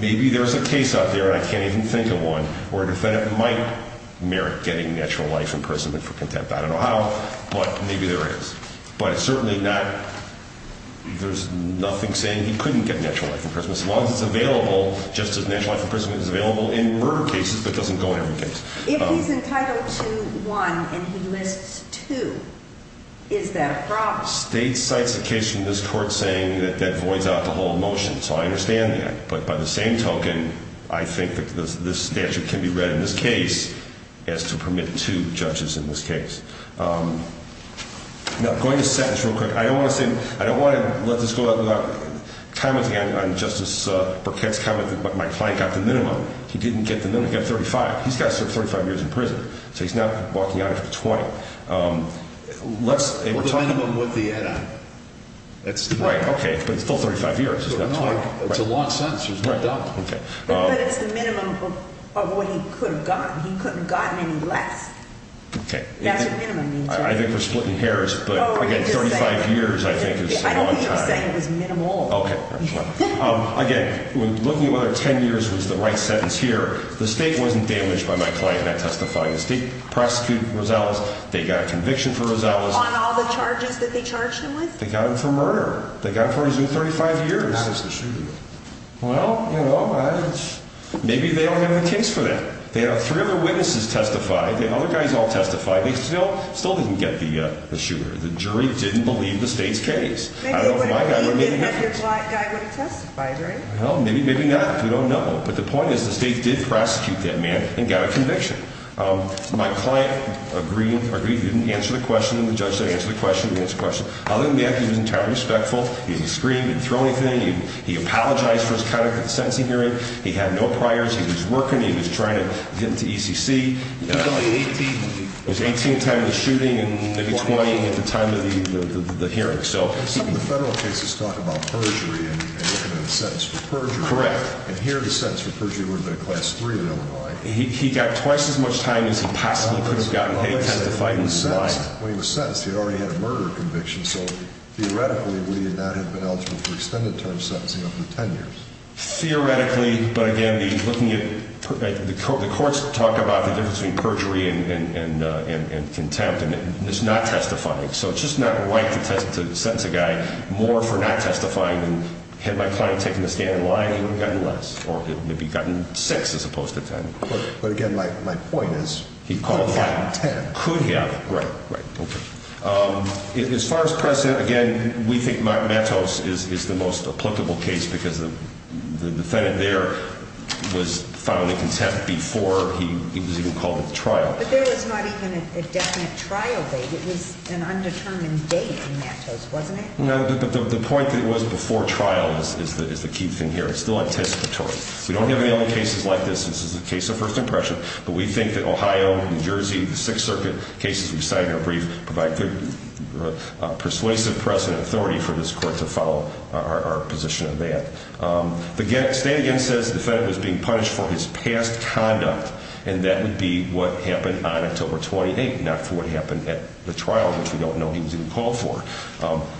Maybe there's a case out there, and I can't even think of one, where a defendant might merit getting natural life imprisonment for contempt. I don't know how, but maybe there is. But it's certainly not ñ there's nothing saying he couldn't get natural life imprisonment so long as it's available, just as natural life imprisonment is available in murder cases but doesn't go in every case. If he's entitled to one and he lists two, is that a problem? State cites a case from this Court saying that that voids out the whole motion. So I understand that. But by the same token, I think that this statute can be read in this case as to permit two judges in this case. Now, going to sentence real quick, I don't want to let this go out without commenting on Justice Burkett's comment that my client got the minimum. He didn't get the minimum, he got 35. He's got 35 years in prison, so he's not walking out after 20. The minimum with the add-on. Right, okay, but it's still 35 years. It's a long sentence, there's no doubt. But it's the minimum of what he could have gotten. He couldn't have gotten any less. That's the minimum. I think we're splitting hairs, but again, 35 years I think is a long time. I don't think you're saying it was minimal. Again, looking at whether 10 years was the right sentence here, the State wasn't damaged by my client not testifying. The State prosecuted Rosales, they got a conviction for Rosales. On all the charges that they charged him with? They got him for murder. They got him for what he's doing, 35 years. Not as the shooter. Well, you know, maybe they don't have a case for that. They have three other witnesses testify. They have other guys all testify. They still didn't get the shooter. The jury didn't believe the State's case. I don't know if my guy would have made a difference. Maybe he would have, if your black guy would have testified, right? Well, maybe not. We don't know. But the point is the State did prosecute that man and got a conviction. My client agreed he didn't answer the question, and the judge didn't answer the question, other than the fact he was entirely respectful. He didn't scream. He didn't throw anything. He apologized for his conduct at the sentencing hearing. He had no priors. He was working. He was trying to get into ECC. He was only 18. He was 18 at the time of the shooting and maybe 20 at the time of the hearing. Some of the federal cases talk about perjury and looking at a sentence for perjury. Correct. And here the sentence for perjury would have been a class 3 or no higher. He got twice as much time as he possibly could have gotten. He testified in his life. When he was sentenced, he already had a murder conviction. So, theoretically, we would not have been eligible for extended-term sentencing over 10 years. Theoretically, but, again, the courts talk about the difference between perjury and contempt, and it's not testifying. So it's just not right to sentence a guy more for not testifying than had my client taken the stand and lied, he would have gotten less. Or he would have gotten 6 as opposed to 10. But, again, my point is he could have gotten 10. Could have. Right, right, okay. As far as precedent, again, we think Mattos is the most applicable case because the defendant there was found in contempt before he was even called at trial. But there was not even a definite trial date. It was an undetermined date in Mattos, wasn't it? No, but the point that it was before trial is the key thing here. It's still anticipatory. We don't have any other cases like this. This is a case of first impression. But we think that Ohio, New Jersey, the Sixth Circuit cases we've cited in our brief provide persuasive precedent authority for this court to follow our position on that. The stand again says the defendant was being punished for his past conduct, and that would be what happened on October 28th, not for what happened at the trial, which we don't know he was even called for.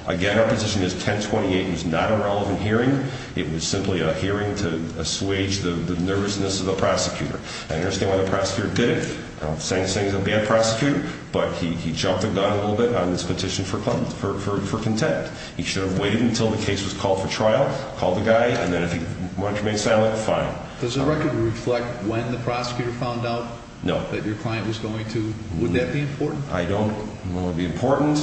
Again, our position is 1028 was not a relevant hearing. It was simply a hearing to assuage the nervousness of the prosecutor. I understand why the prosecutor did it. I'm not saying he's a bad prosecutor, but he jumped the gun a little bit on this petition for contempt. He should have waited until the case was called for trial, called the guy, and then if he wanted to remain silent, fine. Does the record reflect when the prosecutor found out that your client was going to? Would that be important? I don't know if it would be important.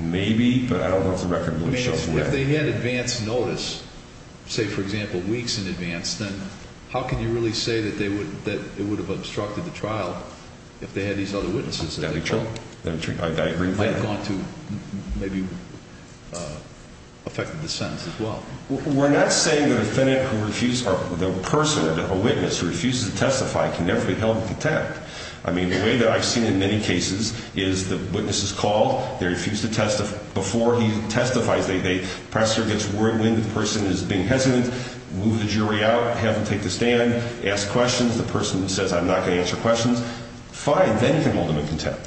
Maybe, but I don't know if the record really shows where. If they had advance notice, say, for example, weeks in advance, then how can you really say that it would have obstructed the trial if they had these other witnesses? That would be true. I agree with that. It might have gone to maybe affecting the sentence as well. We're not saying the person, a witness, who refuses to testify can never be held in contempt. I mean, the way that I've seen in many cases is the witness is called, they refuse to testify before he testifies. The prosecutor gets worried when the person is being hesitant, move the jury out, have them take the stand, ask questions. The person says, I'm not going to answer questions. Fine, then you can hold them in contempt.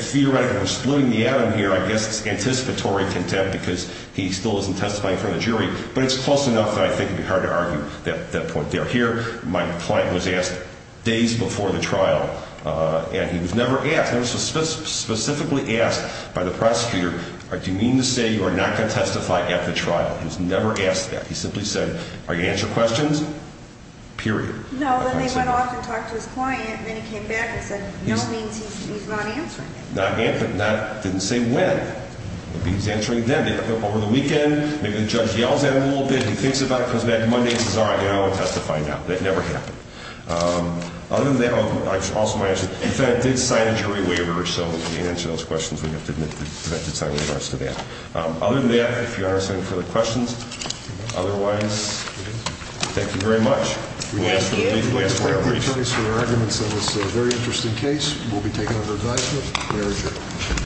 Theoretically, we're splitting the atom here. I guess it's anticipatory contempt because he still isn't testifying in front of the jury, but it's close enough that I think it would be hard to argue that point there. Here, my client was asked days before the trial, and he was never asked. He was specifically asked by the prosecutor, do you mean to say you are not going to testify at the trial? He was never asked that. He simply said, are you going to answer questions? Period. No, then they went off and talked to his client, and then he came back and said, no means he's not answering it. Not yet, but didn't say when. Maybe he's answering then. They hook up over the weekend. Maybe the judge yells at him a little bit. He thinks about it. Comes back Monday and says, all right, I'm going to testify now. That never happened. Other than that, I also want to mention, the fed did sign a jury waiver, so to answer those questions, we have to admit the fed did sign a waiver as to that. Other than that, if you aren't standing for the questions, otherwise, thank you very much. We'll ask for the plea to be answered. Thank you. Thank you for your arguments on this very interesting case. We'll be taking it under advisement. May I adjourn?